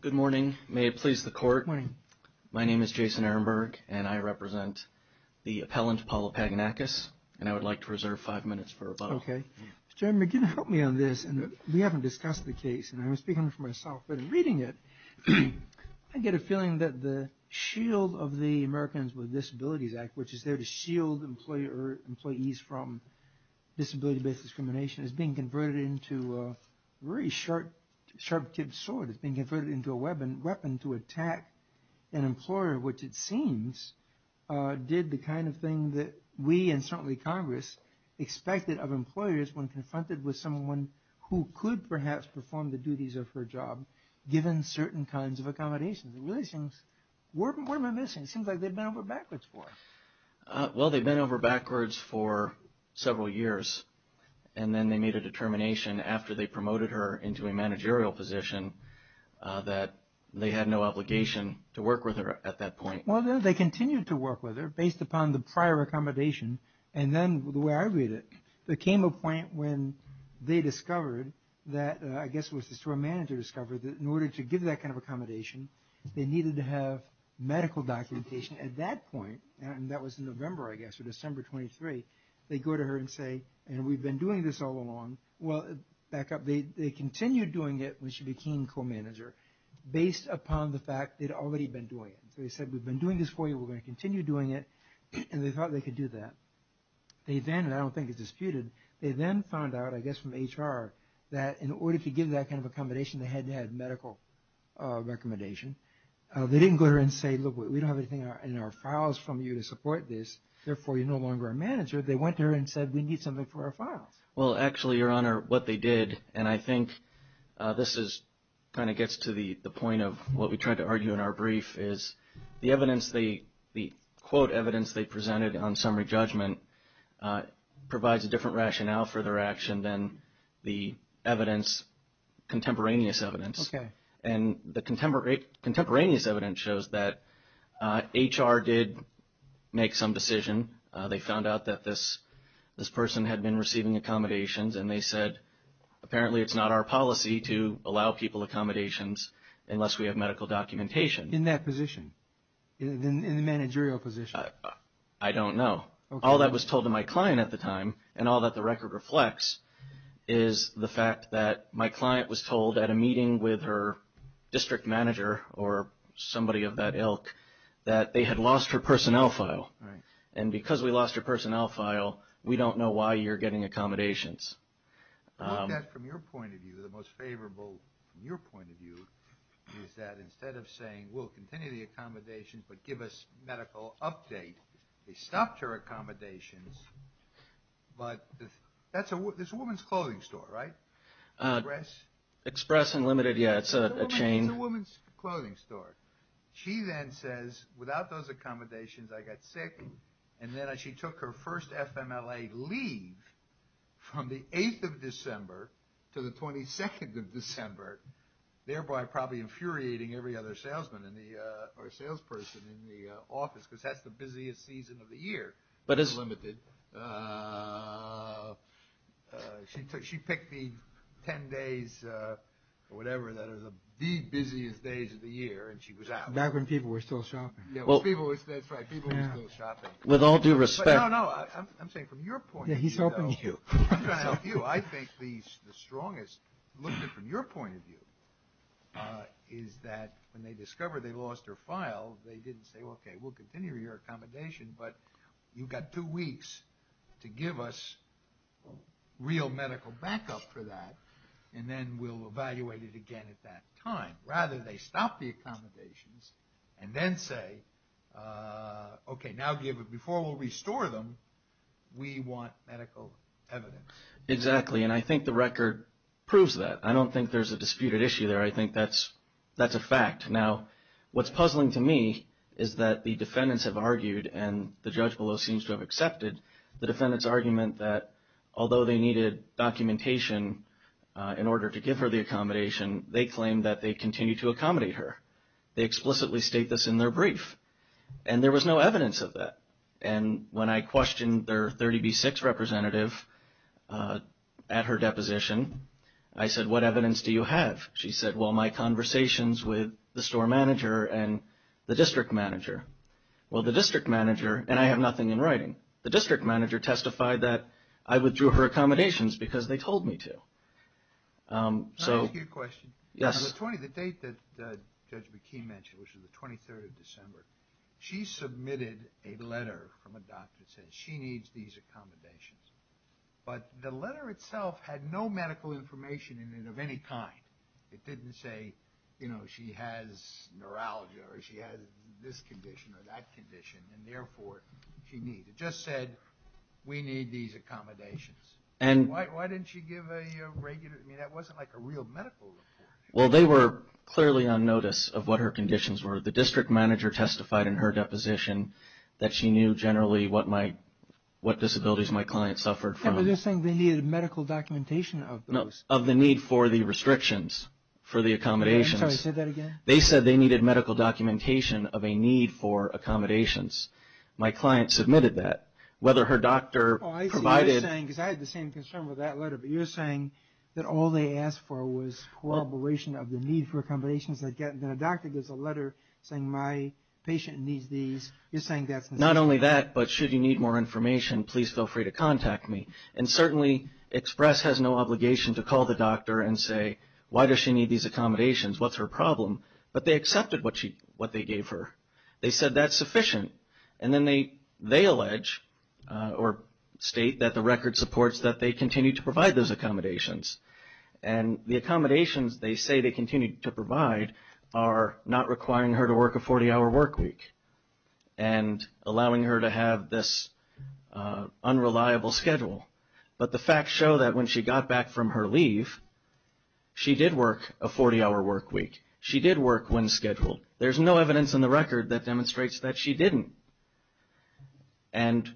Good morning. May it please the court. My name is Jason Ehrenberg, and I represent the appellant Paula Pagonakis, and I would like to reserve five minutes for rebuttal. Okay. Mr. Ehrenberg, can you help me on this? We haven't discussed the case, and I'm speaking for myself, but in reading it, I get a feeling that the shield of the Americans with Disabilities Act, which is there to shield employees from disability-based discrimination, is being converted into a very sharp-tipped sword. It's being converted into a weapon to attack an employer, which it seems did the kind of thing that we, and certainly Congress, expected of employers when confronted with someone who could perhaps perform the duties of her job, given certain kinds of accommodations. What am I missing? It seems like they've been over backwards for us. Well, they've been over backwards for several years, and then they made a determination after they promoted her into a managerial position that they had no obligation to work with her at that point. Well, they continued to work with her based upon the prior accommodation, and then the way I read it, there came a point when they discovered that, I guess it was the store manager discovered that in order to give that kind of accommodation, they needed to have medical documentation. At that point, and that was in November, I guess, or December 23, they go to her and say, and we've been doing this all along. Well, back up, they continued doing it when she became co-manager based upon the fact they'd already been doing it. So they said, we've been doing this for you, we're going to continue doing it, and they thought they could do that. They then, and I don't think it's disputed, they then found out, I guess from HR, that in order to give that kind of accommodation, they had to have medical recommendation. They didn't go to her and say, look, we don't have anything in our files from you to support this, therefore you're no longer our manager. They went to her and said, we need something for our files. Well, actually, Your Honor, what they did, and I think this is, kind of gets to the point of what we tried to argue in our brief, is the evidence, the quote evidence they presented on summary judgment provides a different rationale for their action than the evidence, contemporaneous evidence. And the contemporaneous evidence shows that HR did make some decision. They found out that this person had been receiving accommodations, and they said, apparently it's not our policy to allow people accommodations unless we have medical documentation. In that position? In the managerial position? I don't know. All that was told to my client at the time, and all that the record reflects, is the fact that my client was told at a meeting with her district manager, or somebody of that ilk, that they had lost her personnel file. And because we lost her personnel file, we don't know why you're getting accommodations. I think that, from your point of view, the most favorable, from your point of view, is that instead of saying, we'll continue the accommodations, but give us medical update, they stopped her accommodations. But that's a woman's clothing store, right? Express? Express Unlimited, yeah, it's a chain. It's a woman's clothing store. She then says, without those accommodations, I got sick. And then she took her first FMLA leave from the 8th of December to the 22nd of December, thereby probably infuriating every other salesman or salesperson in the office, because that's the busiest season of the year at Unlimited. She picked the 10 days, or whatever, that are the busiest days of the year, and she was out. Back when people were still shopping. Yeah, that's right, people were still shopping. With all due respect. No, no, I'm saying from your point of view, though. Yeah, he's helping you. I'm trying to help you. I think the strongest, looking from your point of view, is that when they discover they lost her file, they didn't say, okay, we'll continue your accommodation, but you've got two weeks to give us real medical backup for that, and then we'll evaluate it again at that time. Rather, they stop the accommodations, and then say, okay, now before we'll restore them, we want medical evidence. Exactly, and I think the record proves that. I don't think there's a disputed issue there. I think that's a fact. Now, what's puzzling to me is that the defendants have argued, and the judge below seems to have accepted, the defendants' argument that although they needed documentation in order to give her the accommodation, they claimed that they continued to accommodate her. They explicitly state this in their brief, and there was no evidence of that. When I questioned their 30B6 representative at her deposition, I said, what evidence do you have? She said, well, my conversations with the store manager and the district manager. Well, the district manager, and I have nothing in writing, the district manager testified that I withdrew her accommodations because they told me to. Can I ask you a question? Yes. On the date that Judge McKee mentioned, which was the 23rd of December, she submitted a letter from a doctor that said she needs these accommodations, but the letter itself had no medical information in it of any kind. It didn't say, you know, she has neuralgia, or she has this condition, or that condition, and therefore, she needs. It just said, we need these accommodations. Why didn't she give a regular, I mean, that wasn't like a real medical report. Well, they were clearly on notice of what her conditions were. The district manager testified in her deposition that she knew generally what disabilities my client suffered from. So, you're saying they needed medical documentation of those. No, of the need for the restrictions for the accommodations. I'm sorry, say that again. They said they needed medical documentation of a need for accommodations. My client submitted that. Whether her doctor provided... Oh, I see. You're saying, because I had the same concern with that letter, but you're saying that all they asked for was corroboration of the need for accommodations. Then a doctor gives a letter saying, my patient needs these. You're saying that's... Not only that, but should you need more information, please feel free to contact me. And certainly, Express has no obligation to call the doctor and say, why does she need these accommodations? What's her problem? But they accepted what they gave her. They said that's sufficient. And then they allege, or state, that the record supports that they continue to provide those accommodations. And the accommodations they say they continue to provide are not requiring her to work a 40-hour work week, and allowing her to have this unreliable schedule. But the facts show that when she got back from her leave, she did work a 40-hour work week. She did work when scheduled. There's no evidence in the record that demonstrates that she didn't. And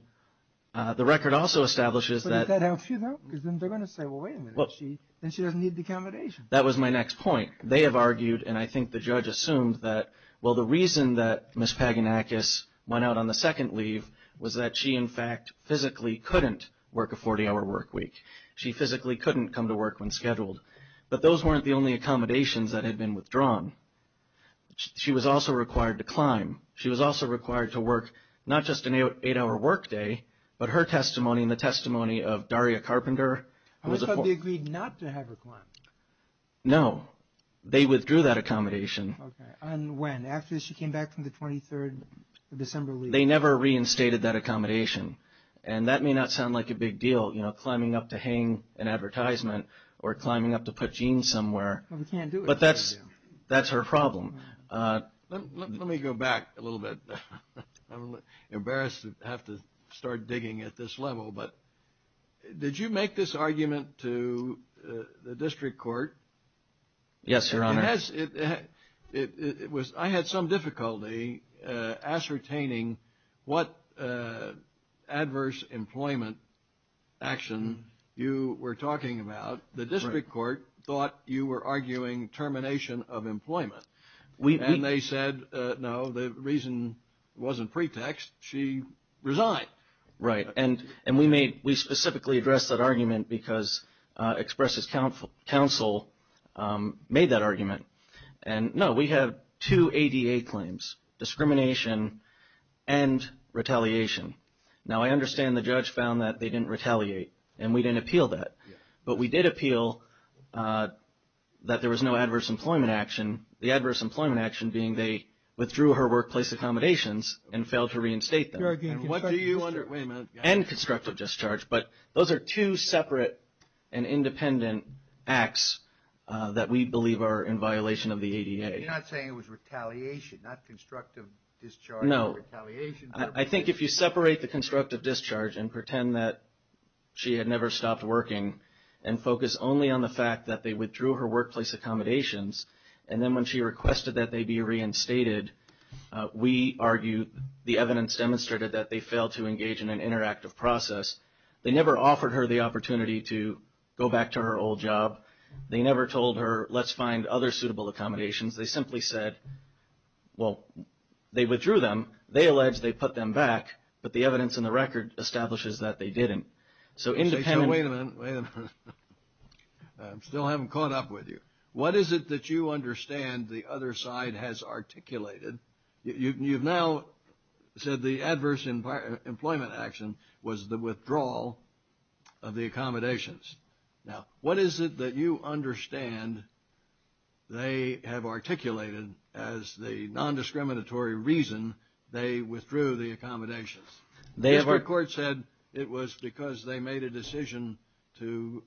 the record also establishes that... But does that help you, though? Because then they're going to say, well, wait a minute. Then she doesn't need the accommodations. That was my next point. They have argued, and I think the judge assumed, that, well, the reason that Ms. Paganakis went out on the second leave was that she, in fact, physically couldn't work a 40-hour work week. She physically couldn't come to work when scheduled. But those weren't the only accommodations that had been withdrawn. She was also required to climb. She was also required to work not just an eight-hour work day, but her testimony and the testimony of Daria Carpenter... So they agreed not to have her climb? No. They withdrew that accommodation. Okay. And when? After she came back from the 23rd of December leave? They never reinstated that accommodation. And that may not sound like a big deal, climbing up to hang an advertisement or climbing up to put jeans somewhere. Well, we can't do it. But that's her problem. Let me go back a little bit. I'm embarrassed to have to start digging at this level. But would you make this argument to the district court? Yes, Your Honor. I had some difficulty ascertaining what adverse employment action you were talking about. The district court thought you were arguing termination of employment. And they said, no, the reason wasn't pretext. She resigned. Right. And we specifically addressed that argument because Express's counsel made that argument. And no, we have two ADA claims, discrimination and retaliation. Now, I understand the judge found that they didn't retaliate, and we didn't appeal that. But we did appeal that there was no adverse employment action, the adverse employment action being they withdrew her workplace accommodations and failed to reinstate them. And what do you under... Wait a minute. And constructive discharge. But those are two separate and independent acts that we believe are in violation of the ADA. You're not saying it was retaliation, not constructive discharge or retaliation. No. I think if you separate the constructive discharge and pretend that she had never stopped working and focus only on the fact that they withdrew her workplace accommodations, and then when she requested that they be reinstated, we argue the evidence demonstrated that they failed to engage in an interactive process. They never offered her the opportunity to go back to her old job. They never told her, let's find other suitable accommodations. They simply said, well, they withdrew them. They alleged they put them back. But the evidence and the record establishes that they didn't. So independent... And the other side has articulated. You've now said the adverse employment action was the withdrawal of the accommodations. Now, what is it that you understand they have articulated as the nondiscriminatory reason they withdrew the accommodations? They have... The district court said it was because they made a decision to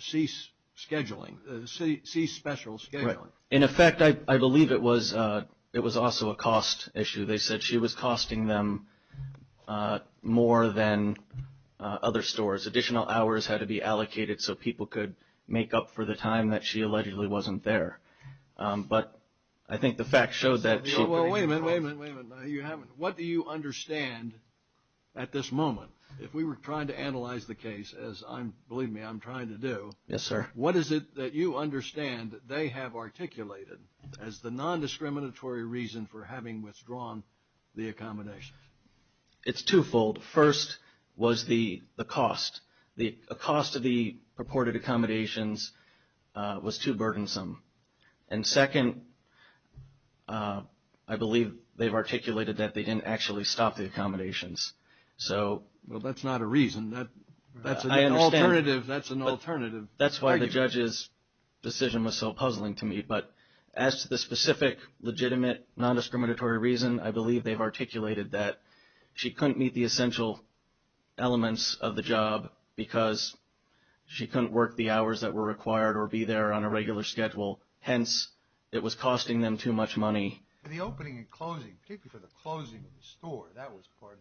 cease scheduling, cease special scheduling. In effect, I believe it was also a cost issue. They said she was costing them more than other stores. Additional hours had to be allocated so people could make up for the time that she allegedly wasn't there. But I think the fact showed that she... Well, wait a minute, wait a minute, wait a minute. You haven't... What do you understand at this moment? If we were trying to analyze the case, as I'm, believe me, I'm trying to do... Yes, sir. What is it that you understand that they have articulated as the nondiscriminatory reason for having withdrawn the accommodations? It's twofold. First was the cost. The cost of the purported accommodations was too burdensome. And second, I believe they've articulated that they didn't actually stop the accommodations. So... Well, that's not a reason. That's an alternative. That's why the judge's decision was so puzzling to me. But as to the specific legitimate nondiscriminatory reason, I believe they've articulated that she couldn't meet the essential elements of the job because she couldn't work the hours that were required or be there on a regular schedule. Hence, it was costing them too much money. The opening and closing, particularly for the closing of the store, that was part of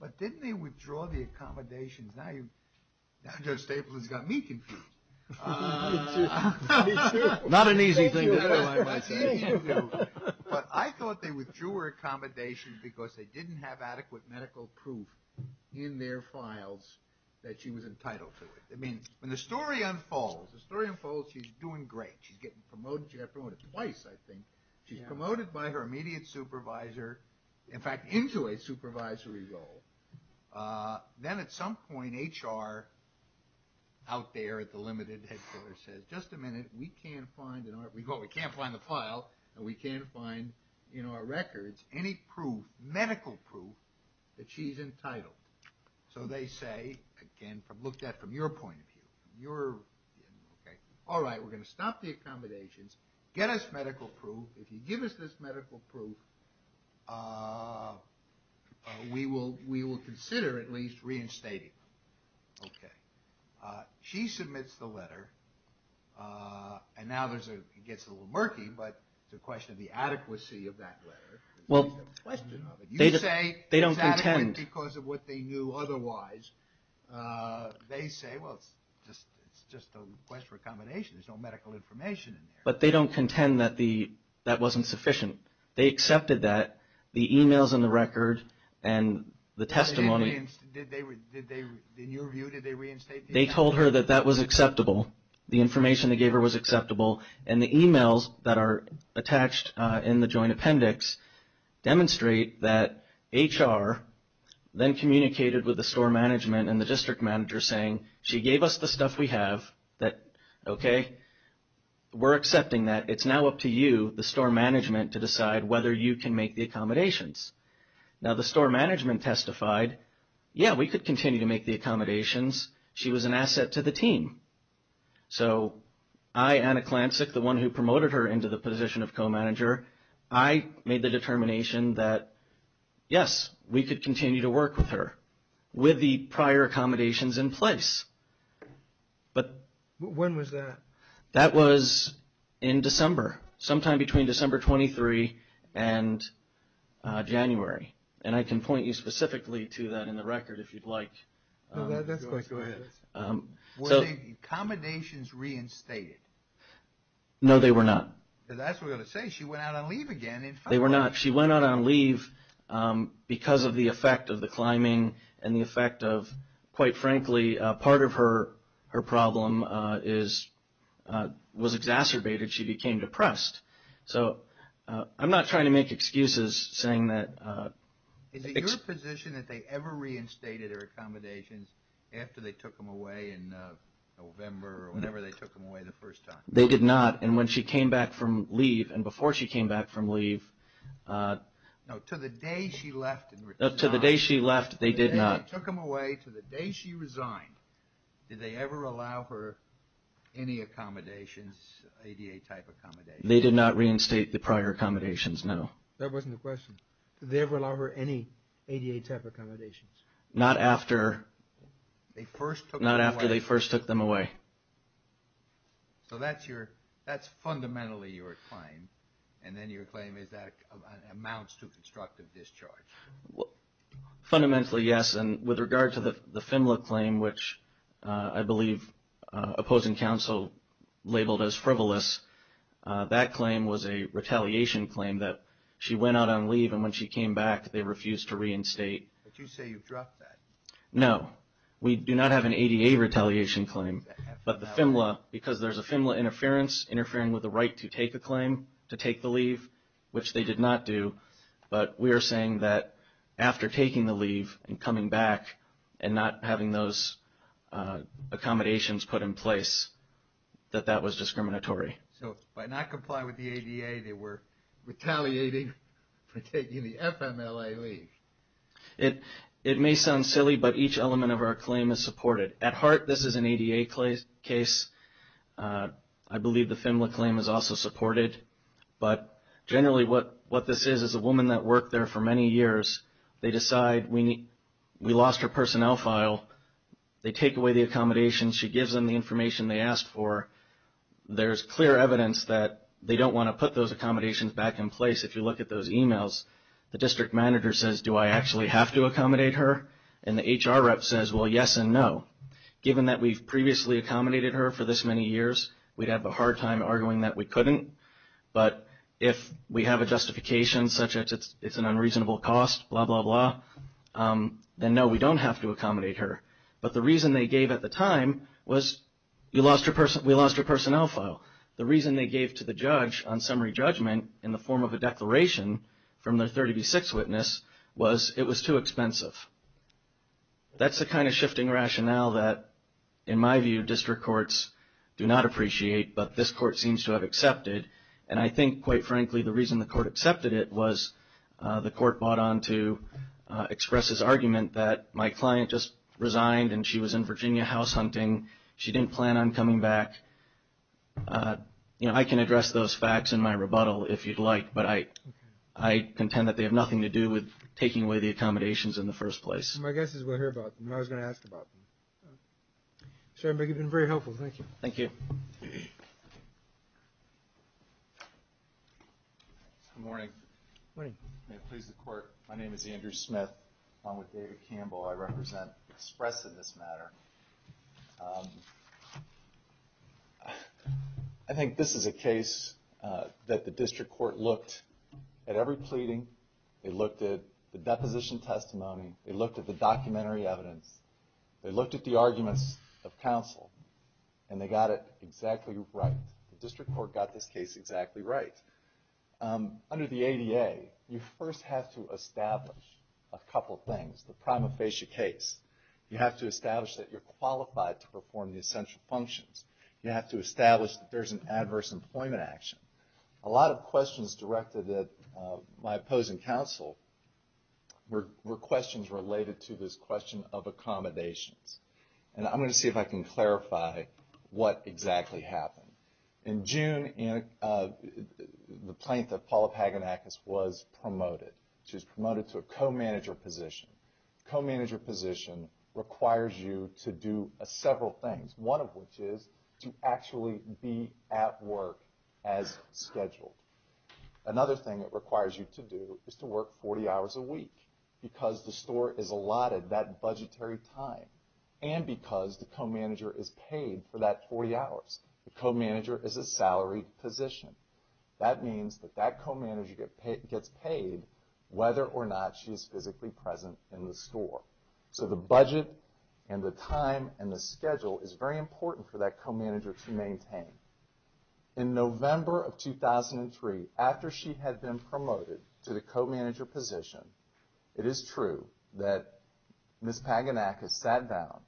But didn't they withdraw the accommodations? Now Joe Staples has got me confused. Not an easy thing to analyze myself. But I thought they withdrew her accommodations because they didn't have adequate medical proof in their files that she was entitled to it. I mean, when the story unfolds, she's doing great. She's getting promoted. She got promoted twice, I think. She's promoted by her immediate supervisor. In fact, into a supervisory role. Then at some point, HR out there at the limited headquarters says, just a minute, we can't find in our... Well, we can't find the file, and we can't find in our records any proof, medical proof that she's entitled. So they say, again, looked at from your point of view. All right, we're going to stop the medical proof. We will consider at least reinstating her. Okay. She submits the letter, and now it gets a little murky, but it's a question of the adequacy of that letter. Well, they don't contend. You say it's adequate because of what they knew otherwise. They say, well, it's just a question of accommodation. There's no medical information in there. But they don't contend that that wasn't sufficient. They accepted that. The emails in the record and the testimony... In your view, did they reinstate the email? They told her that that was acceptable. The information they gave her was acceptable. And the emails that are attached in the joint appendix demonstrate that HR then communicated with the store management and the district manager saying, she gave us the stuff we have, that, okay, we're accepting that. It's now up to you, the store management, to decide whether you can make the accommodations. Now, the store management testified, yeah, we could continue to make the accommodations. She was an asset to the team. So I, Anna Klancik, the one who promoted her into the position of co-manager, I made the determination that, yes, we could continue to work with her with the prior accommodations in place. When was that? That was in December, sometime between December 23 and January. And I can point you specifically to that in the record if you'd like. No, that's fine. Go ahead. Were the accommodations reinstated? No, they were not. That's what I was going to say. She went out on leave again. They were not. She went out on leave because of the effect of the climbing and the effect of, quite frankly, part of her problem was exacerbated. She became depressed. So I'm not trying to make excuses saying that. Is it your position that they ever reinstated her accommodations after they took them away in November or whenever they took them away the first time? They did not. And when she came back from leave and before she came back from leave. No, to the day she left. To the day she left, they did not. They took them away to the day she resigned. Did they ever allow her any accommodations, ADA-type accommodations? They did not reinstate the prior accommodations, no. That wasn't the question. Did they ever allow her any ADA-type accommodations? Not after they first took them away. So that's fundamentally your claim. And then your claim is that it amounts to constructive discharge. Fundamentally, yes. And with regard to the FINLA claim, which I believe opposing counsel labeled as frivolous, that claim was a retaliation claim that she went out on leave and when she came back, they refused to reinstate. But you say you dropped that. No. We do not have an ADA retaliation claim, but the FINLA, because there's a FINLA interference interfering with the right to take a claim, to take the leave, which they did not do. But we are saying that after taking the leave and coming back and not having those accommodations put in place, that that was discriminatory. So by not complying with the ADA, they were retaliating for taking the FMLA leave. It may sound silly, but each element of our claim is supported. At heart, this is an ADA case. I believe the FINLA claim is also supported. But generally what this is, is a woman that worked there for many years, they decide we lost her personnel file. They take away the accommodations. She gives them the information they asked for. There's clear evidence that they don't want to put those accommodations back in place. If you look at those emails, the district manager says, do I actually have to accommodate her? And the HR rep says, well, yes and no. Given that we've previously accommodated her for this many years, we'd have a hard time arguing that we couldn't. But if we have a justification such as it's an unreasonable cost, blah, blah, blah, then no, we don't have to accommodate her. But the reason they gave at the time was we lost her personnel file. The reason they gave to the judge on summary judgment in the form of a declaration from their 30B6 witness was it was too expensive. That's the kind of shifting rationale that, in my view, district courts do not appreciate, but this court seems to have accepted. And I think, quite frankly, the reason the court accepted it was the court bought on to express his argument that my client just resigned and she was in Virginia house hunting. She didn't plan on coming back. You know, I can address those facts in my rebuttal if you'd like, but I contend that they have nothing to do with taking away the accommodations in the first place. My guess is we'll hear about them. I was going to ask about them. Chairman, you've been very helpful. Thank you. Thank you. Good morning. Good morning. May it please the Court, my name is Andrew Smith. Along with David Campbell, I represent Express in this matter. I think this is a case that the district court looked at every pleading. They looked at the deposition testimony. They looked at the documentary evidence. They looked at the arguments of counsel, and they got it exactly right. The district court got this case exactly right. Under the ADA, you first have to establish a couple things. The prima facie case. You have to establish that you're qualified to perform the essential functions. You have to establish that there's an adverse employment action. A lot of questions directed at my opposing counsel were questions related to this question of accommodations. And I'm going to see if I can clarify what exactly happened. In June, the plaintiff, Paula Paganakis, was promoted. She was promoted to a co-manager position. A co-manager position requires you to do several things. One of which is to actually be at work as scheduled. Another thing it requires you to do is to work 40 hours a week because the store is allotted that budgetary time. And because the co-manager is paid for that 40 hours. The co-manager is a salaried position. That means that that co-manager gets paid whether or not she's physically present in the store. So the budget and the time and the schedule is very important for that co-manager to maintain. In November of 2003, after she had been promoted to the co-manager position, it is true that Ms. Paganakis sat down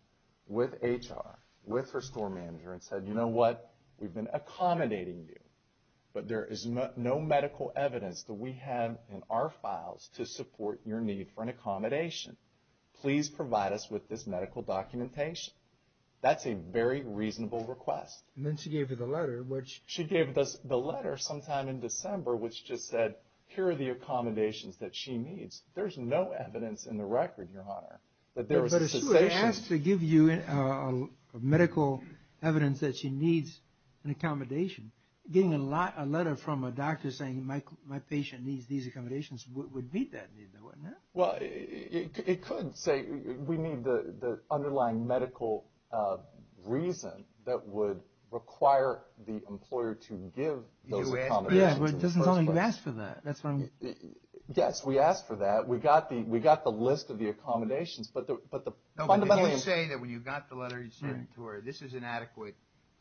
with HR, with her store manager, and said, you know what, we've been accommodating you. But there is no medical evidence that we have in our files to support your need for an accommodation. Please provide us with this medical documentation. That's a very reasonable request. And then she gave you the letter, which... She gave us the letter sometime in December, which just said, here are the accommodations that she needs. There's no evidence in the record, Your Honor, that there was a cessation... that she needs an accommodation. Getting a letter from a doctor saying, my patient needs these accommodations would meet that need, though, wouldn't it? Well, it could say, we need the underlying medical reason that would require the employer to give those accommodations. Yeah, but it doesn't sound like you asked for that. Yes, we asked for that. We got the list of the accommodations, but the fundamentally...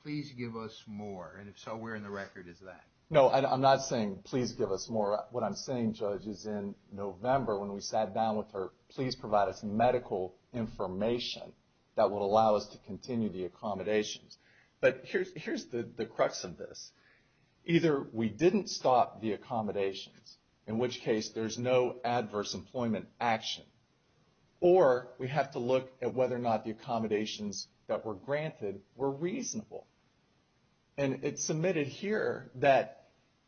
Please give us more, and if so, where in the record is that? No, I'm not saying, please give us more. What I'm saying, Judge, is in November, when we sat down with her, please provide us medical information that would allow us to continue the accommodations. But here's the crux of this. Either we didn't stop the accommodations, in which case there's no adverse employment action, or we have to look at whether or not the accommodations that were granted were reasonable. And it's submitted here that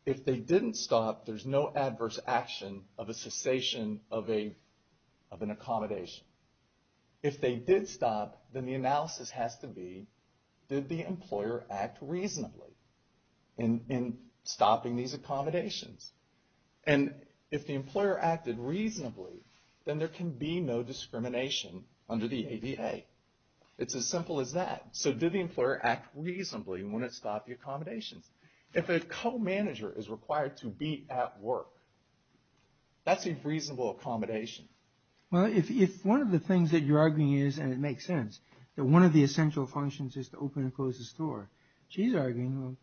if they didn't stop, there's no adverse action of a cessation of an accommodation. If they did stop, then the analysis has to be, did the employer act reasonably in stopping these accommodations? And if the employer acted reasonably, then there can be no discrimination under the ADA. It's as simple as that. So did the employer act reasonably when it stopped the accommodations? If a co-manager is required to be at work, that's a reasonable accommodation. Well, if one of the things that you're arguing is, and it makes sense, that one of the essential functions is to open and close the store, she's arguing,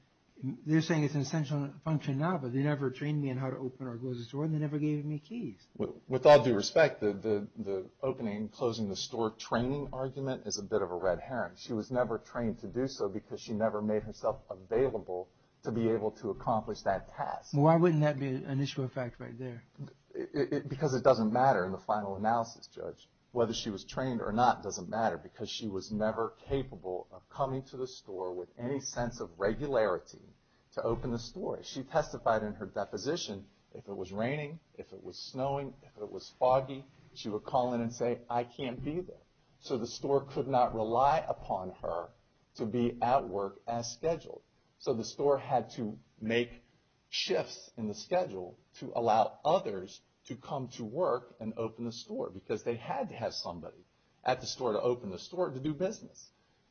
they're saying it's an essential function now, but they never trained me on how to open or close the store, and they never gave me keys. With all due respect, the opening and closing the store training argument is a bit of a red herring. She was never trained to do so because she never made herself available to be able to accomplish that task. Why wouldn't that be an issue of fact right there? Because it doesn't matter in the final analysis, Judge. Whether she was trained or not doesn't matter because she was never capable of coming to the store with any sense of regularity to open the store. She testified in her deposition, if it was raining, if it was snowing, if it was foggy, she would call in and say, I can't be there. So the store could not rely upon her to be at work as scheduled. So the store had to make shifts in the schedule to allow others to come to work and open the store because they had to have somebody at the store to open the store to do business.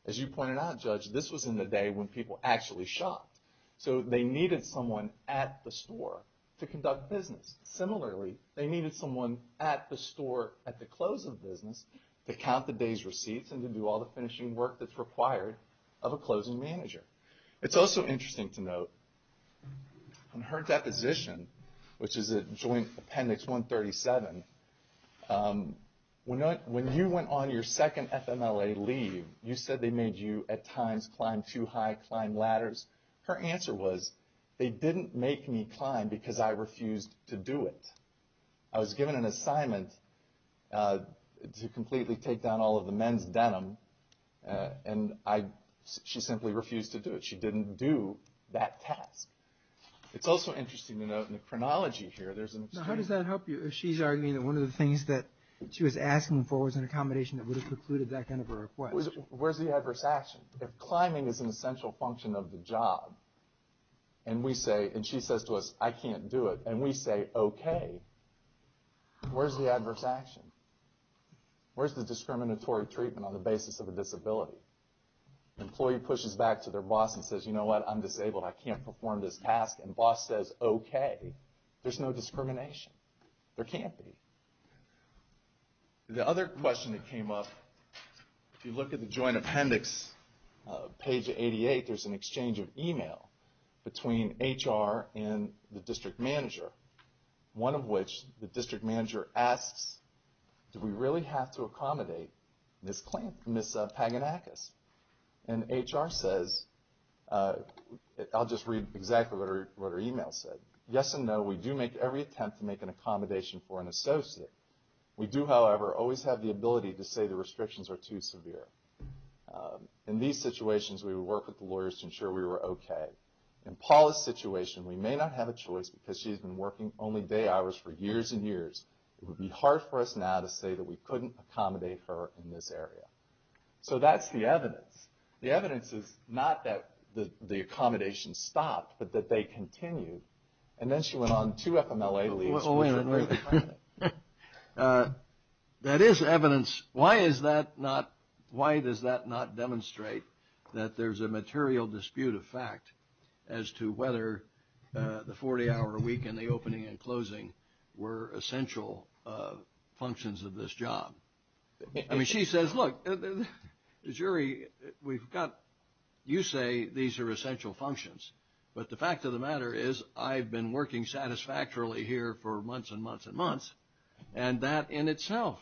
As you pointed out, Judge, this was in the day when people actually shopped. So they needed someone at the store to conduct business. Similarly, they needed someone at the store at the close of business to count the day's receipts and to do all the finishing work that's required of a closing manager. It's also interesting to note, in her deposition, which is at Joint Appendix 137, when you went on your second FMLA leave, you said they made you at times climb too high, climb ladders. Her answer was, they didn't make me climb because I refused to do it. I was given an assignment to completely take down all of the men's denim and she simply refused to do it. She didn't do that task. It's also interesting to note, in the chronology here, there's an extreme... How does that help you if she's arguing that one of the things that she was asking for was an accommodation that would have precluded that kind of a request? Where's the adverse action? If climbing is an essential function of the job, and she says to us, I can't do it, and we say, okay, where's the adverse action? Where's the discriminatory treatment on the basis of a disability? The employee pushes back to their boss and says, you know what? I'm disabled. I can't perform this task. And the boss says, okay. There's no discrimination. There can't be. The other question that came up, if you look at the Joint Appendix, page 88, there's an exchange of email between HR and the district manager, one of which the district manager asks, do we really have to accommodate Ms. Paganakis? And HR says, I'll just read exactly what her email said. Yes and no, we do make every attempt to make an accommodation for an associate. We do, however, always have the ability to say the restrictions are too severe. In these situations, we would work with the lawyers to ensure we were okay. In Paula's situation, we may not have a choice because she's been working only day hours for years and years. It would be hard for us now to say that we couldn't accommodate her in this area. So that's the evidence. The evidence is not that the accommodation stopped, but that they continued. And then she went on two FMLA leaves. That is evidence. Why is that not – why does that not demonstrate that there's a material dispute of fact as to whether the 40-hour week and the opening and closing were essential functions of this job? I mean, she says, look, the jury, we've got – you say these are essential functions, but the fact of the matter is I've been working satisfactorily here for months and months and months, and that in itself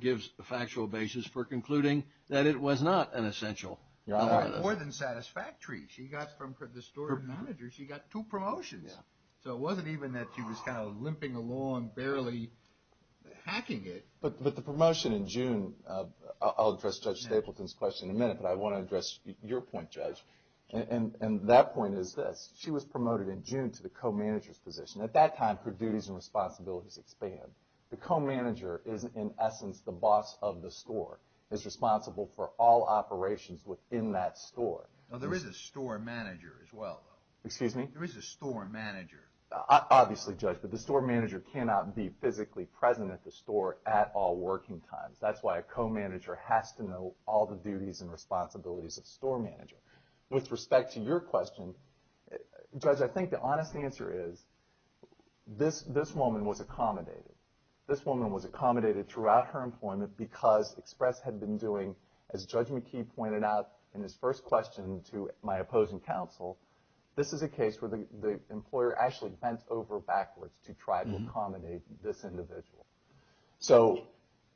gives a factual basis for concluding that it was not an essential. More than satisfactory. She got from the store manager, she got two promotions. So it wasn't even that she was kind of limping along, barely hacking it. But the promotion in June – I'll address Judge Stapleton's question in a minute, but I want to address your point, Judge. And that point is this. She was promoted in June to the co-manager's position. At that time, her duties and responsibilities expand. The co-manager is, in essence, the boss of the store, is responsible for all operations within that store. Now, there is a store manager as well, though. Excuse me? There is a store manager. Obviously, Judge, but the store manager cannot be physically present at the store at all working times. That's why a co-manager has to know all the duties and responsibilities of the store manager. With respect to your question, Judge, I think the honest answer is this woman was accommodated. This woman was accommodated throughout her employment because Express had been doing, as Judge McKee pointed out in his first question to my opposing counsel, this is a case where the employer actually bent over backwards to try to accommodate this individual. So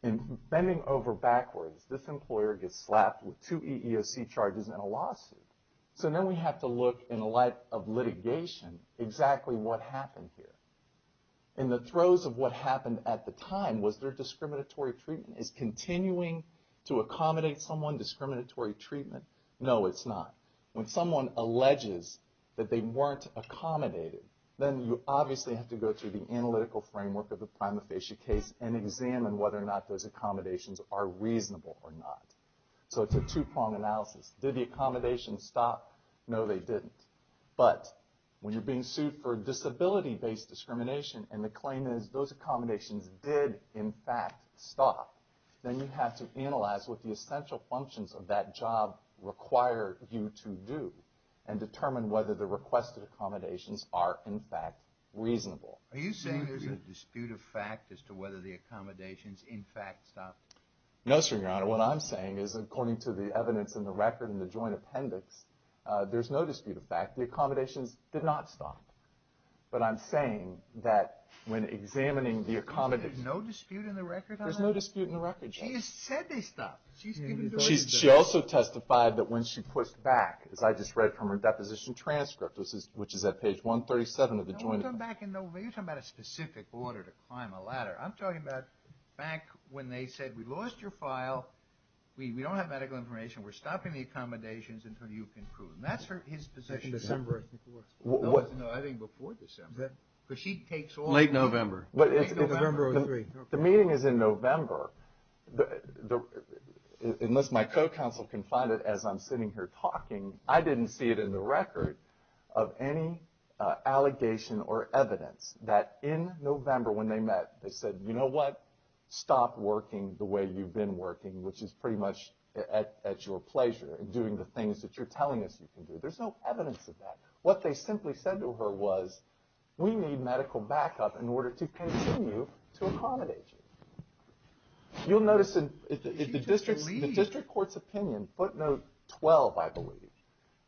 in bending over backwards, this employer gets slapped with two EEOC charges and a lawsuit. So now we have to look in the light of litigation exactly what happened here. In the throes of what happened at the time, was there discriminatory treatment? Is continuing to accommodate someone discriminatory treatment? No, it's not. When someone alleges that they weren't accommodated, then you obviously have to go through the analytical framework of the prima facie case and examine whether or not those accommodations are reasonable or not. So it's a two-prong analysis. Did the accommodations stop? No, they didn't. But when you're being sued for disability-based discrimination and the claim is those accommodations did, in fact, stop, then you have to analyze what the essential functions of that job require you to do and determine whether the requested accommodations are, in fact, reasonable. Are you saying there's a dispute of fact as to whether the accommodations, in fact, stopped? No, sir, Your Honor. What I'm saying is, according to the evidence in the record in the joint appendix, there's no dispute of fact. The accommodations did not stop. But I'm saying that when examining the accommodations... You're saying there's no dispute in the record, Your Honor? There's no dispute in the record, Your Honor. She has said they stopped. She also testified that when she pushed back, as I just read from her deposition transcript, which is at page 137 of the joint... You're talking about a specific order to climb a ladder. I'm talking about back when they said, We lost your file. We don't have medical information. We're stopping the accommodations until you can prove them. That's his position. I think December of 2004. No, I think before December. Late November. November of 2003. The meeting is in November. Unless my co-counsel can find it as I'm sitting here talking, I didn't see it in the record of any allegation or evidence that in November when they met, they said, You know what? Stop working the way you've been working, which is pretty much at your pleasure, and doing the things that you're telling us you can do. There's no evidence of that. What they simply said to her was, We need medical backup in order to continue to accommodate you. You'll notice in the district court's opinion, footnote 12, I believe,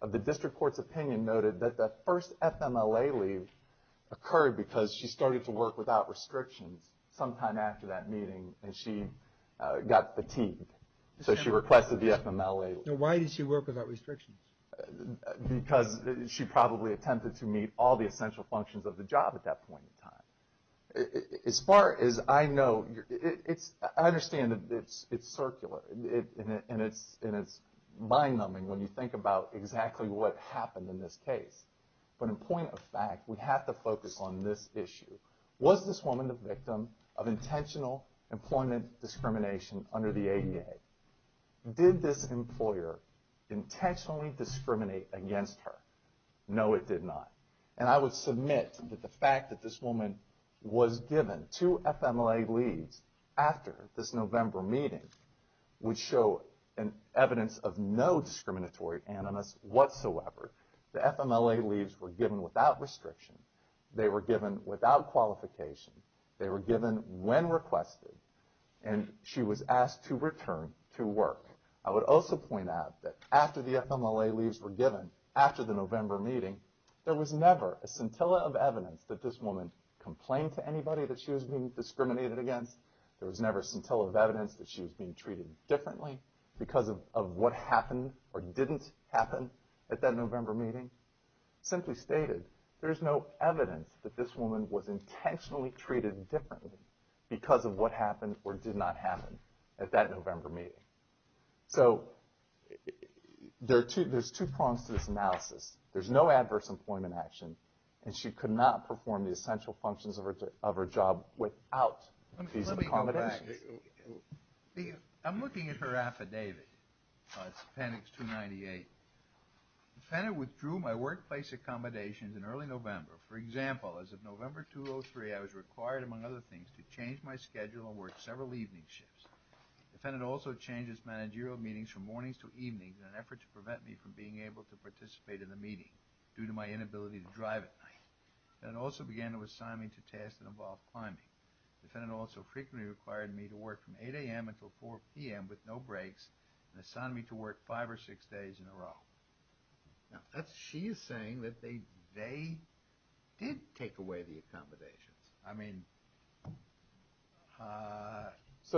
of the district court's opinion noted that the first FMLA leave occurred because she started to work without restrictions sometime after that meeting and she got fatigued. So she requested the FMLA leave. Why did she work without restrictions? Because she probably attempted to meet all the essential functions of the job at that point in time. As far as I know, I understand it's circular, and it's mind-numbing when you think about exactly what happened in this case. But in point of fact, we have to focus on this issue. Was this woman the victim of intentional employment discrimination under the ADA? Did this employer intentionally discriminate against her? No, it did not. And I would submit that the fact that this woman was given two FMLA leaves after this November meeting would show evidence of no discriminatory animus whatsoever. The FMLA leaves were given without restriction. They were given without qualification. They were given when requested, and she was asked to return to work. I would also point out that after the FMLA leaves were given, after the November meeting, there was never a scintilla of evidence that this woman complained to anybody that she was being discriminated against. There was never a scintilla of evidence that she was being treated differently because of what happened or didn't happen at that November meeting. Simply stated, there's no evidence that this woman was intentionally treated differently because of what happened or did not happen at that November meeting. So there's two prongs to this analysis. There's no adverse employment action, and she could not perform the essential functions of her job without these accommodations. Let me go back. I'm looking at her affidavit. It's appendix 298. The defendant withdrew my workplace accommodations in early November. For example, as of November 2003, I was required, among other things, to change my schedule and work several evening shifts. The defendant also changed his managerial meetings from mornings to evenings in an effort to prevent me from being able to participate in the meeting due to my inability to drive at night. The defendant also began to assign me to tasks that involved climbing. The defendant also frequently required me to work from 8 a.m. until 4 p.m. with no breaks and assigned me to work five or six days in a row. She is saying that they did take away the accommodations. I mean,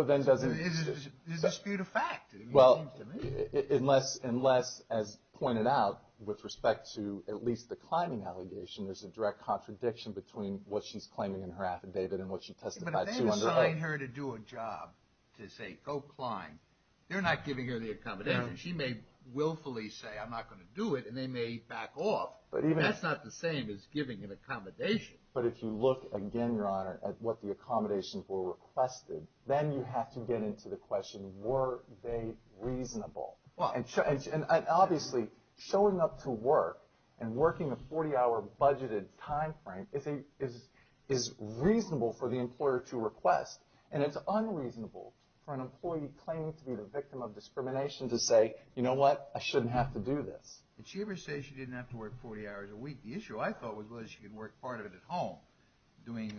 there's a dispute of fact, it seems to me. Unless, as pointed out, with respect to at least the climbing allegation, there's a direct contradiction between what she's claiming in her affidavit and what she testified to under oath. But if they assign her to do a job to say, go climb, they're not giving her the accommodations. She may willfully say, I'm not going to do it, and they may back off. That's not the same as giving an accommodation. But if you look again, Your Honor, at what the accommodations were requested, then you have to get into the question, were they reasonable? Obviously, showing up to work and working a 40-hour budgeted timeframe is reasonable for the employer to request, and it's unreasonable for an employee claiming to be the victim of discrimination to say, you know what, I shouldn't have to do this. Did she ever say she didn't have to work 40 hours a week? The issue, I thought, was she could work part of it at home, doing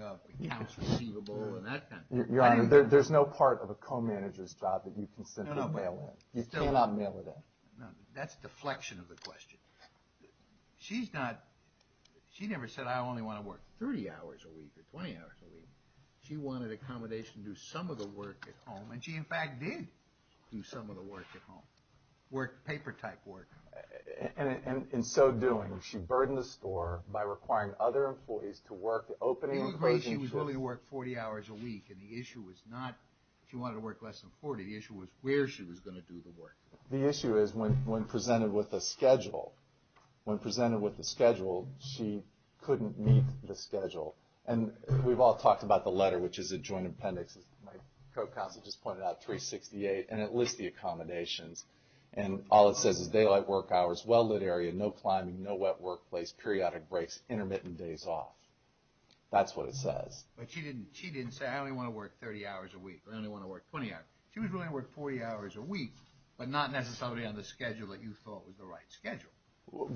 accounts receivable and that kind of thing. Your Honor, there's no part of a co-manager's job that you can simply mail in. You cannot mail it in. That's deflection of the question. She never said, I only want to work 30 hours a week or 20 hours a week. She wanted accommodation to do some of the work at home, and she, in fact, did do some of the work at home, paper-type work. In so doing, she burdened the store by requiring other employees to work opening and closing. It would be great if she was willing to work 40 hours a week, and the issue was not if she wanted to work less than 40. The issue was where she was going to do the work. The issue is when presented with a schedule. When presented with a schedule, she couldn't meet the schedule. We've all talked about the letter, which is a joint appendix. My co-counsel just pointed out 368, and it lists the accommodations. All it says is daylight work hours, well-lit area, no climbing, no wet workplace, periodic breaks, intermittent days off. That's what it says. But she didn't say, I only want to work 30 hours a week or I only want to work 20 hours. She was willing to work 40 hours a week, but not necessarily on the schedule that you thought was the right schedule.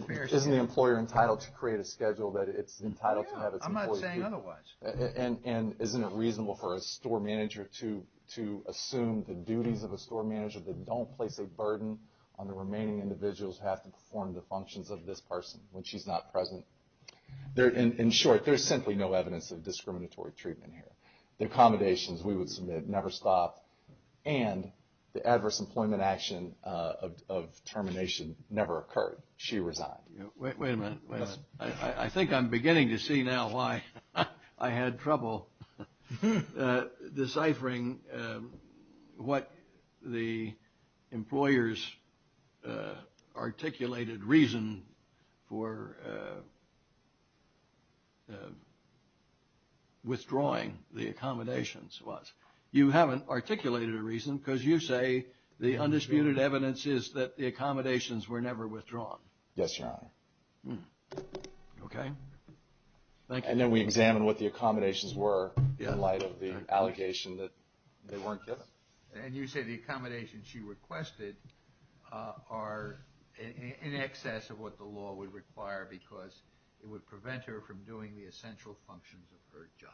Isn't the employer entitled to create a schedule that it's entitled to have its employees do? Yeah, I'm not saying otherwise. And isn't it reasonable for a store manager to assume the duties of a store manager that don't place a burden on the remaining individuals who have to perform the functions of this person when she's not present? In short, there's simply no evidence of discriminatory treatment here. The accommodations we would submit never stopped, and the adverse employment action of termination never occurred. She resigned. Wait a minute. I think I'm beginning to see now why I had trouble deciphering what the employer's articulated reason for withdrawing the accommodations was. You haven't articulated a reason because you say the undisputed evidence is that the accommodations were never withdrawn. Yes, Your Honor. Okay. Thank you. And then we examined what the accommodations were in light of the allocation that they weren't given. And you say the accommodations she requested are in excess of what the law would require because it would prevent her from doing the essential functions of her job.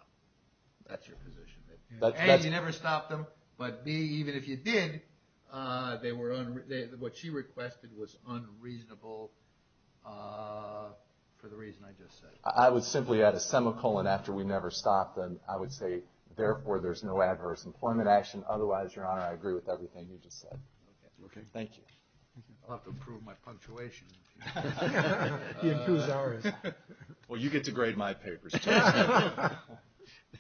That's your position. A, you never stopped them, but B, even if you did, what she requested was unreasonable for the reason I just said. I would simply add a semicolon after we never stopped them. I would say, therefore, there's no adverse employment action. Otherwise, Your Honor, I agree with everything you just said. Okay. Thank you. I'll have to improve my punctuation. He improves ours. Well, you get to grade my papers, too.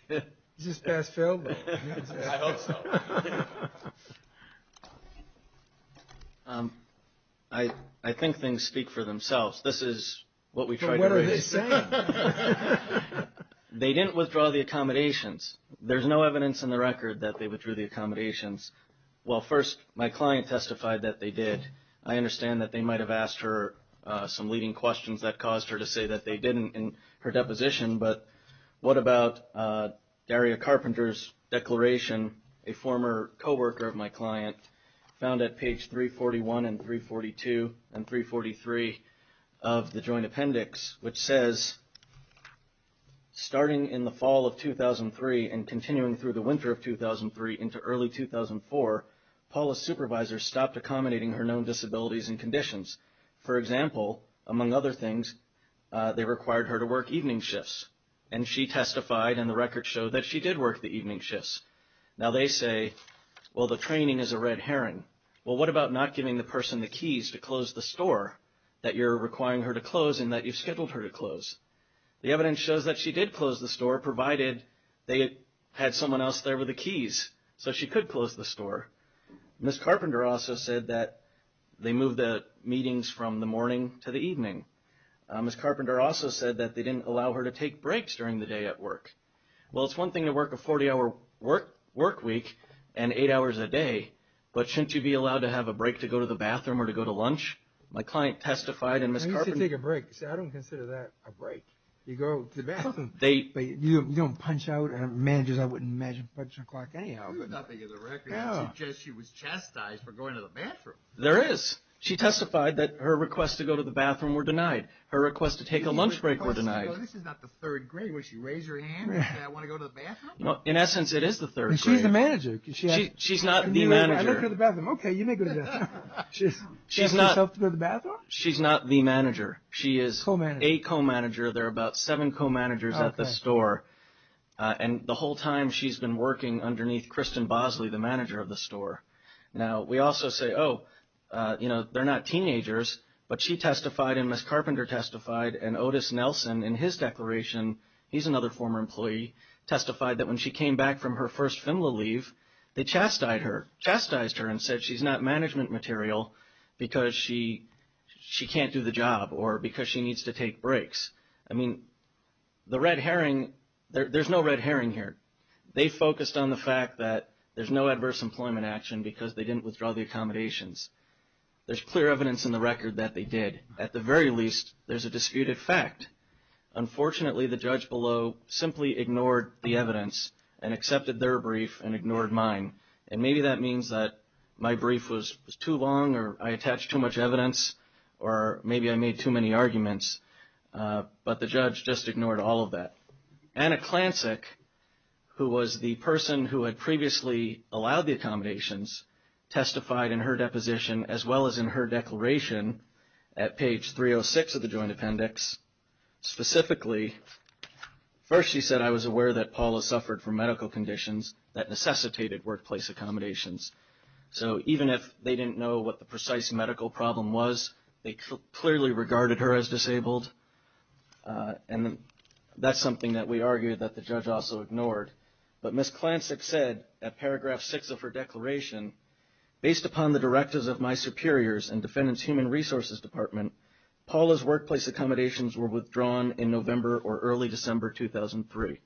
Is this past fail mode? I hope so. I think things speak for themselves. This is what we tried to raise. What are they saying? They didn't withdraw the accommodations. There's no evidence in the record that they withdrew the accommodations. Well, first, my client testified that they did. I understand that they might have asked her some leading questions that caused her to say that they didn't in her deposition, but what about Daria Carpenter's declaration, a former coworker of my client, found at page 341 and 342 and 343 of the joint appendix, which says starting in the fall of 2003 and continuing through the winter of 2003 into early 2004, Paula's supervisor stopped accommodating her known disabilities and conditions. For example, among other things, they required her to work evening shifts, and she testified in the record show that she did work the evening shifts. Now, they say, well, the training is a red herring. Well, what about not giving the person the keys to close the store that you're requiring her to close and that you've scheduled her to close? The evidence shows that she did close the store, provided they had someone else there with the keys, so she could close the store. Ms. Carpenter also said that they moved the meetings from the morning to the evening. Ms. Carpenter also said that they didn't allow her to take breaks during the day at work. Well, it's one thing to work a 40-hour work week and eight hours a day, but shouldn't you be allowed to have a break to go to the bathroom or to go to lunch? My client testified, and Ms. Carpenter... I used to take a break. See, I don't consider that a break. You go to the bathroom. You don't punch out. Man, I just wouldn't imagine punching a clock anyhow. There's nothing in the record that suggests she was chastised for going to the bathroom. There is. She testified that her requests to go to the bathroom were denied. Her requests to take a lunch break were denied. This is not the third grade where she raised her hand and said, I want to go to the bathroom. In essence, it is the third grade. She's the manager. She's not the manager. I look in the bathroom. Okay, you may go to the bathroom. She's not the manager. She is a co-manager. There are about seven co-managers at the store, and the whole time she's been working underneath Kristen Bosley, the manager of the store. Now, we also say, oh, you know, they're not teenagers, but she testified and Ms. Carpenter testified and Otis Nelson, in his declaration, he's another former employee, testified that when she came back from her first FINLA leave, they chastised her and said she's not management material because she can't do the job or because she needs to take breaks. I mean, the red herring, there's no red herring here. They focused on the fact that there's no adverse employment action because they didn't withdraw the accommodations. There's clear evidence in the record that they did. At the very least, there's a disputed fact. Unfortunately, the judge below simply ignored the evidence and accepted their brief and ignored mine, and maybe that means that my brief was too long or I attached too much evidence or maybe I made too many arguments, but the judge just ignored all of that. Anna Klancik, who was the person who had previously allowed the accommodations, testified in her deposition as well as in her declaration at page 306 of the Joint Appendix. Specifically, first she said, I was aware that Paula suffered from medical conditions that necessitated workplace accommodations. So even if they didn't know what the precise medical problem was, they clearly regarded her as disabled, and that's something that we argued that the judge also ignored. But Ms. Klancik said at paragraph 6 of her declaration, based upon the directives of my superiors and Defendant's Human Resources Department, Paula's workplace accommodations were withdrawn in November or early December 2003.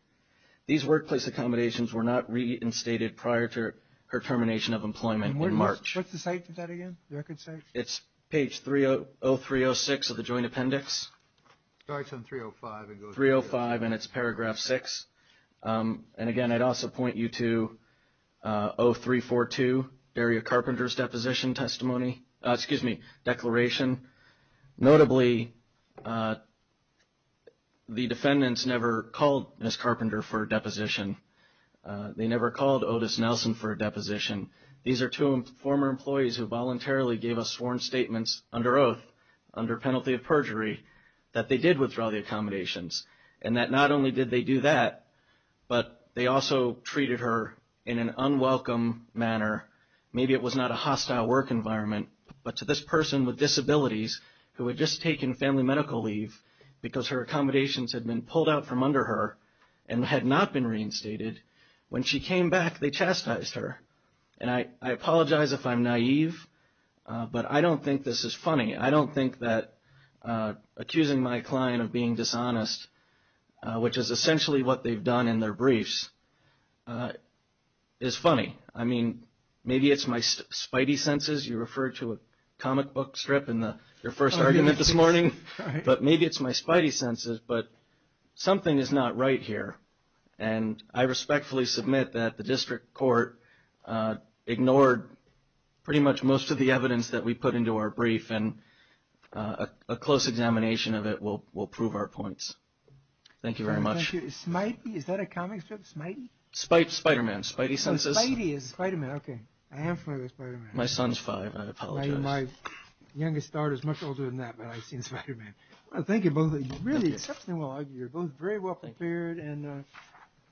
These workplace accommodations were not reinstated prior to her termination of employment in March. And what's the site for that again, the record site? It's page 30306 of the Joint Appendix. It starts on 305 and goes to 305. 305, and it's paragraph 6. And again, I'd also point you to 0342, Daria Carpenter's declaration. Notably, the defendants never called Ms. Carpenter for a deposition. They never called Otis Nelson for a deposition. These are two former employees who voluntarily gave us sworn statements under oath, under penalty of perjury, that they did withdraw the accommodations, and that not only did they do that, but they also treated her in an unwelcome manner. Maybe it was not a hostile work environment, but to this person with disabilities who had just taken family medical leave because her accommodations had been pulled out from under her and had not been reinstated, when she came back, they chastised her. And I apologize if I'm naive, but I don't think this is funny. I don't think that accusing my client of being dishonest, which is essentially what they've done in their briefs, is funny. I mean, maybe it's my spidey senses. You referred to a comic book strip in your first argument this morning. But maybe it's my spidey senses, but something is not right here. And I respectfully submit that the district court ignored pretty much most of the evidence that we put into our brief, and a close examination of it will prove our points. Thank you very much. Spidey? Is that a comic strip, spidey? Spider-Man, spidey senses. Spidey is Spider-Man, okay. I am familiar with Spider-Man. My son's five, and I apologize. My youngest daughter is much older than that, but I've seen Spider-Man. Thank you both, really exceptionally well argued. You're both very well prepared, and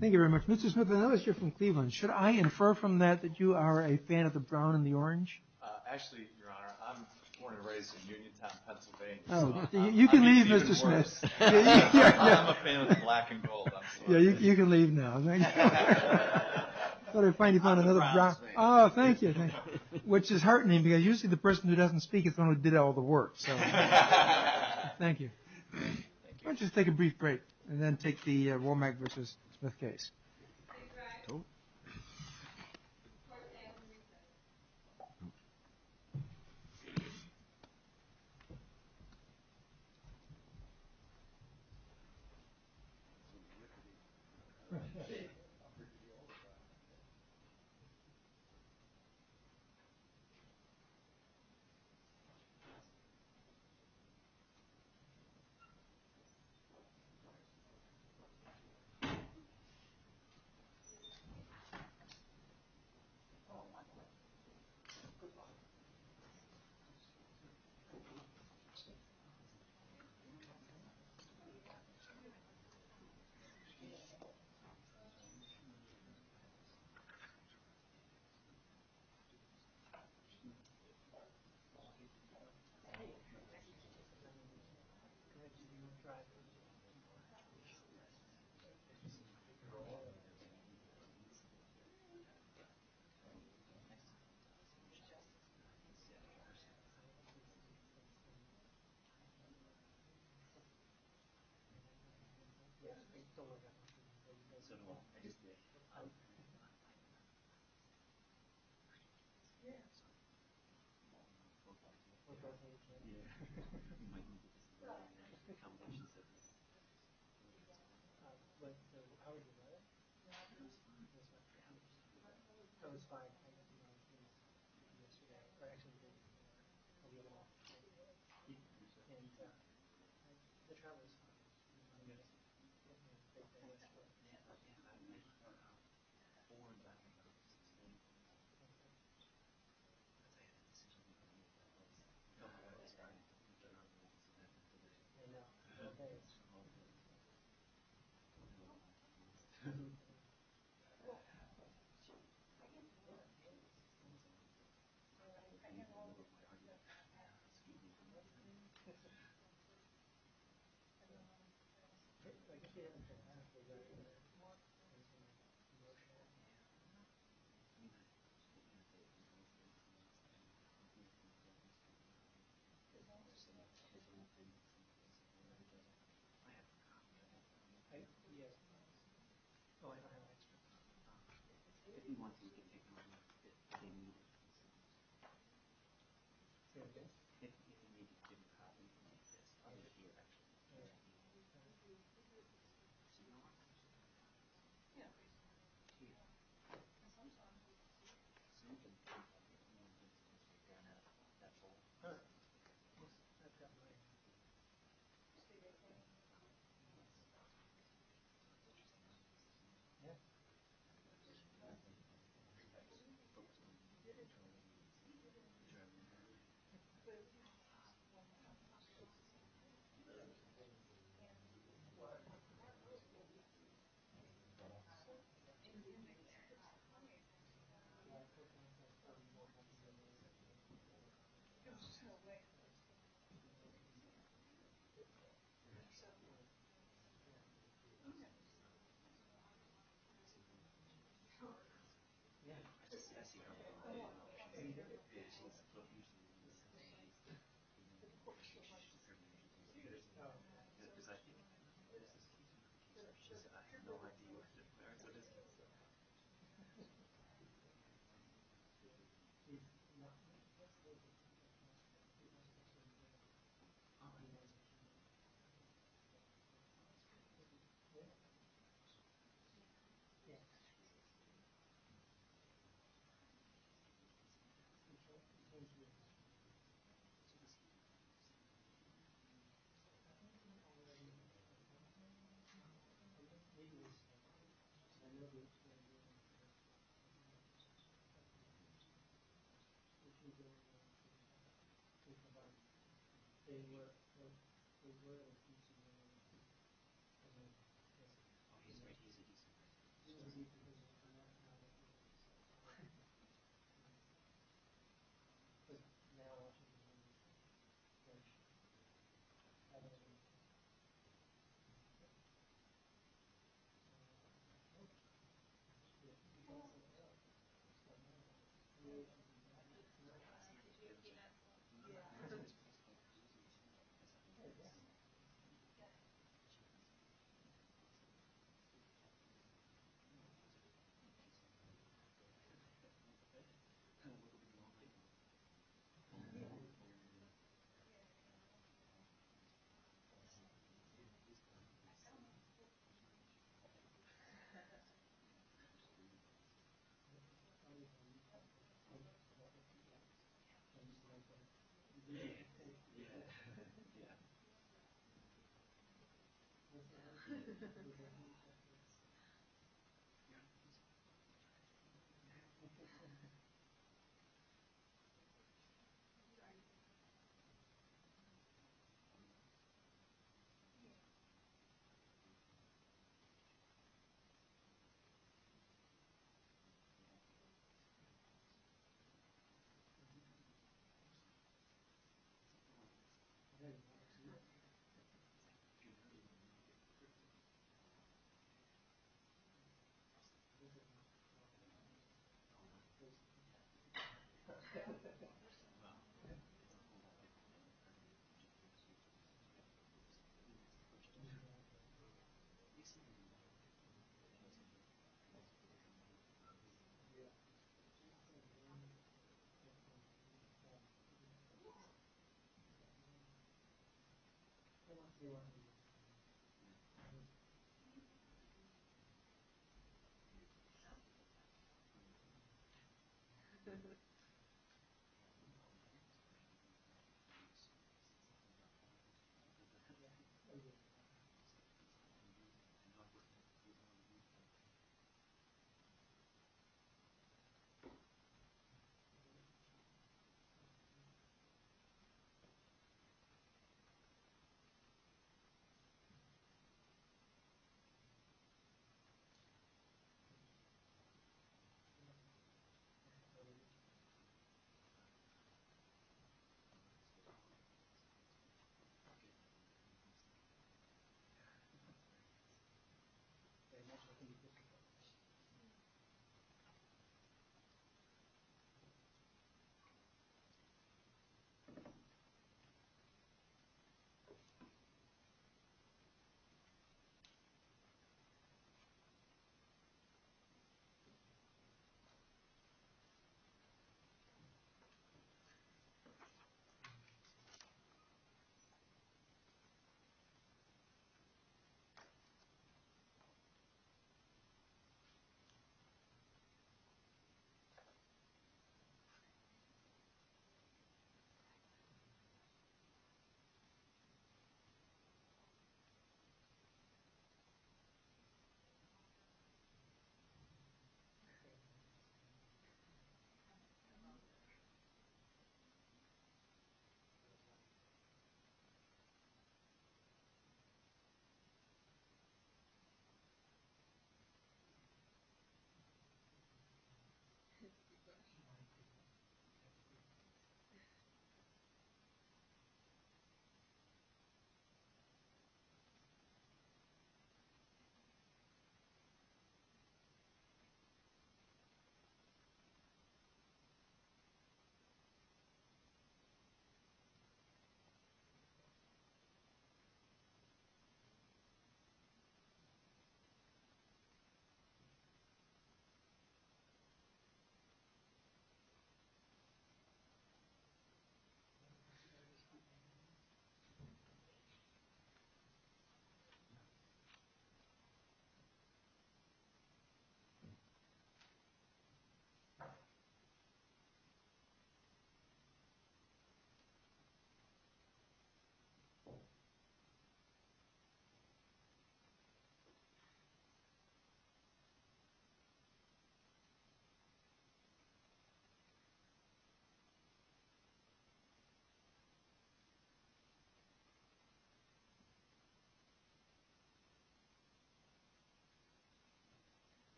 thank you very much. Mr. Smith, I know that you're from Cleveland. Should I infer from that that you are a fan of the brown and the orange? Actually, Your Honor, I was born and raised in Uniontown, Pennsylvania. You can leave, Mr. Smith. I'm a fan of the black and gold. Yeah, you can leave now. I thought I finally found another brown. Oh, thank you. Which is heartening, because usually the person who doesn't speak is the one who did all the work. Thank you. Why don't you just take a brief break, and then take the Womack v. Smith case.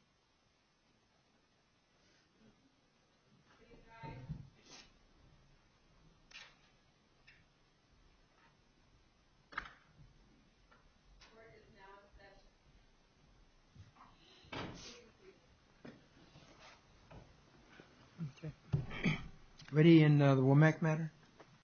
Thank you. Thank you. Thank you, Mr. Smith. Thank you very much. Thank you. Thank you. Thank you. Thank you. Thank you. Thank you. Thank you. Thank you. Thank you.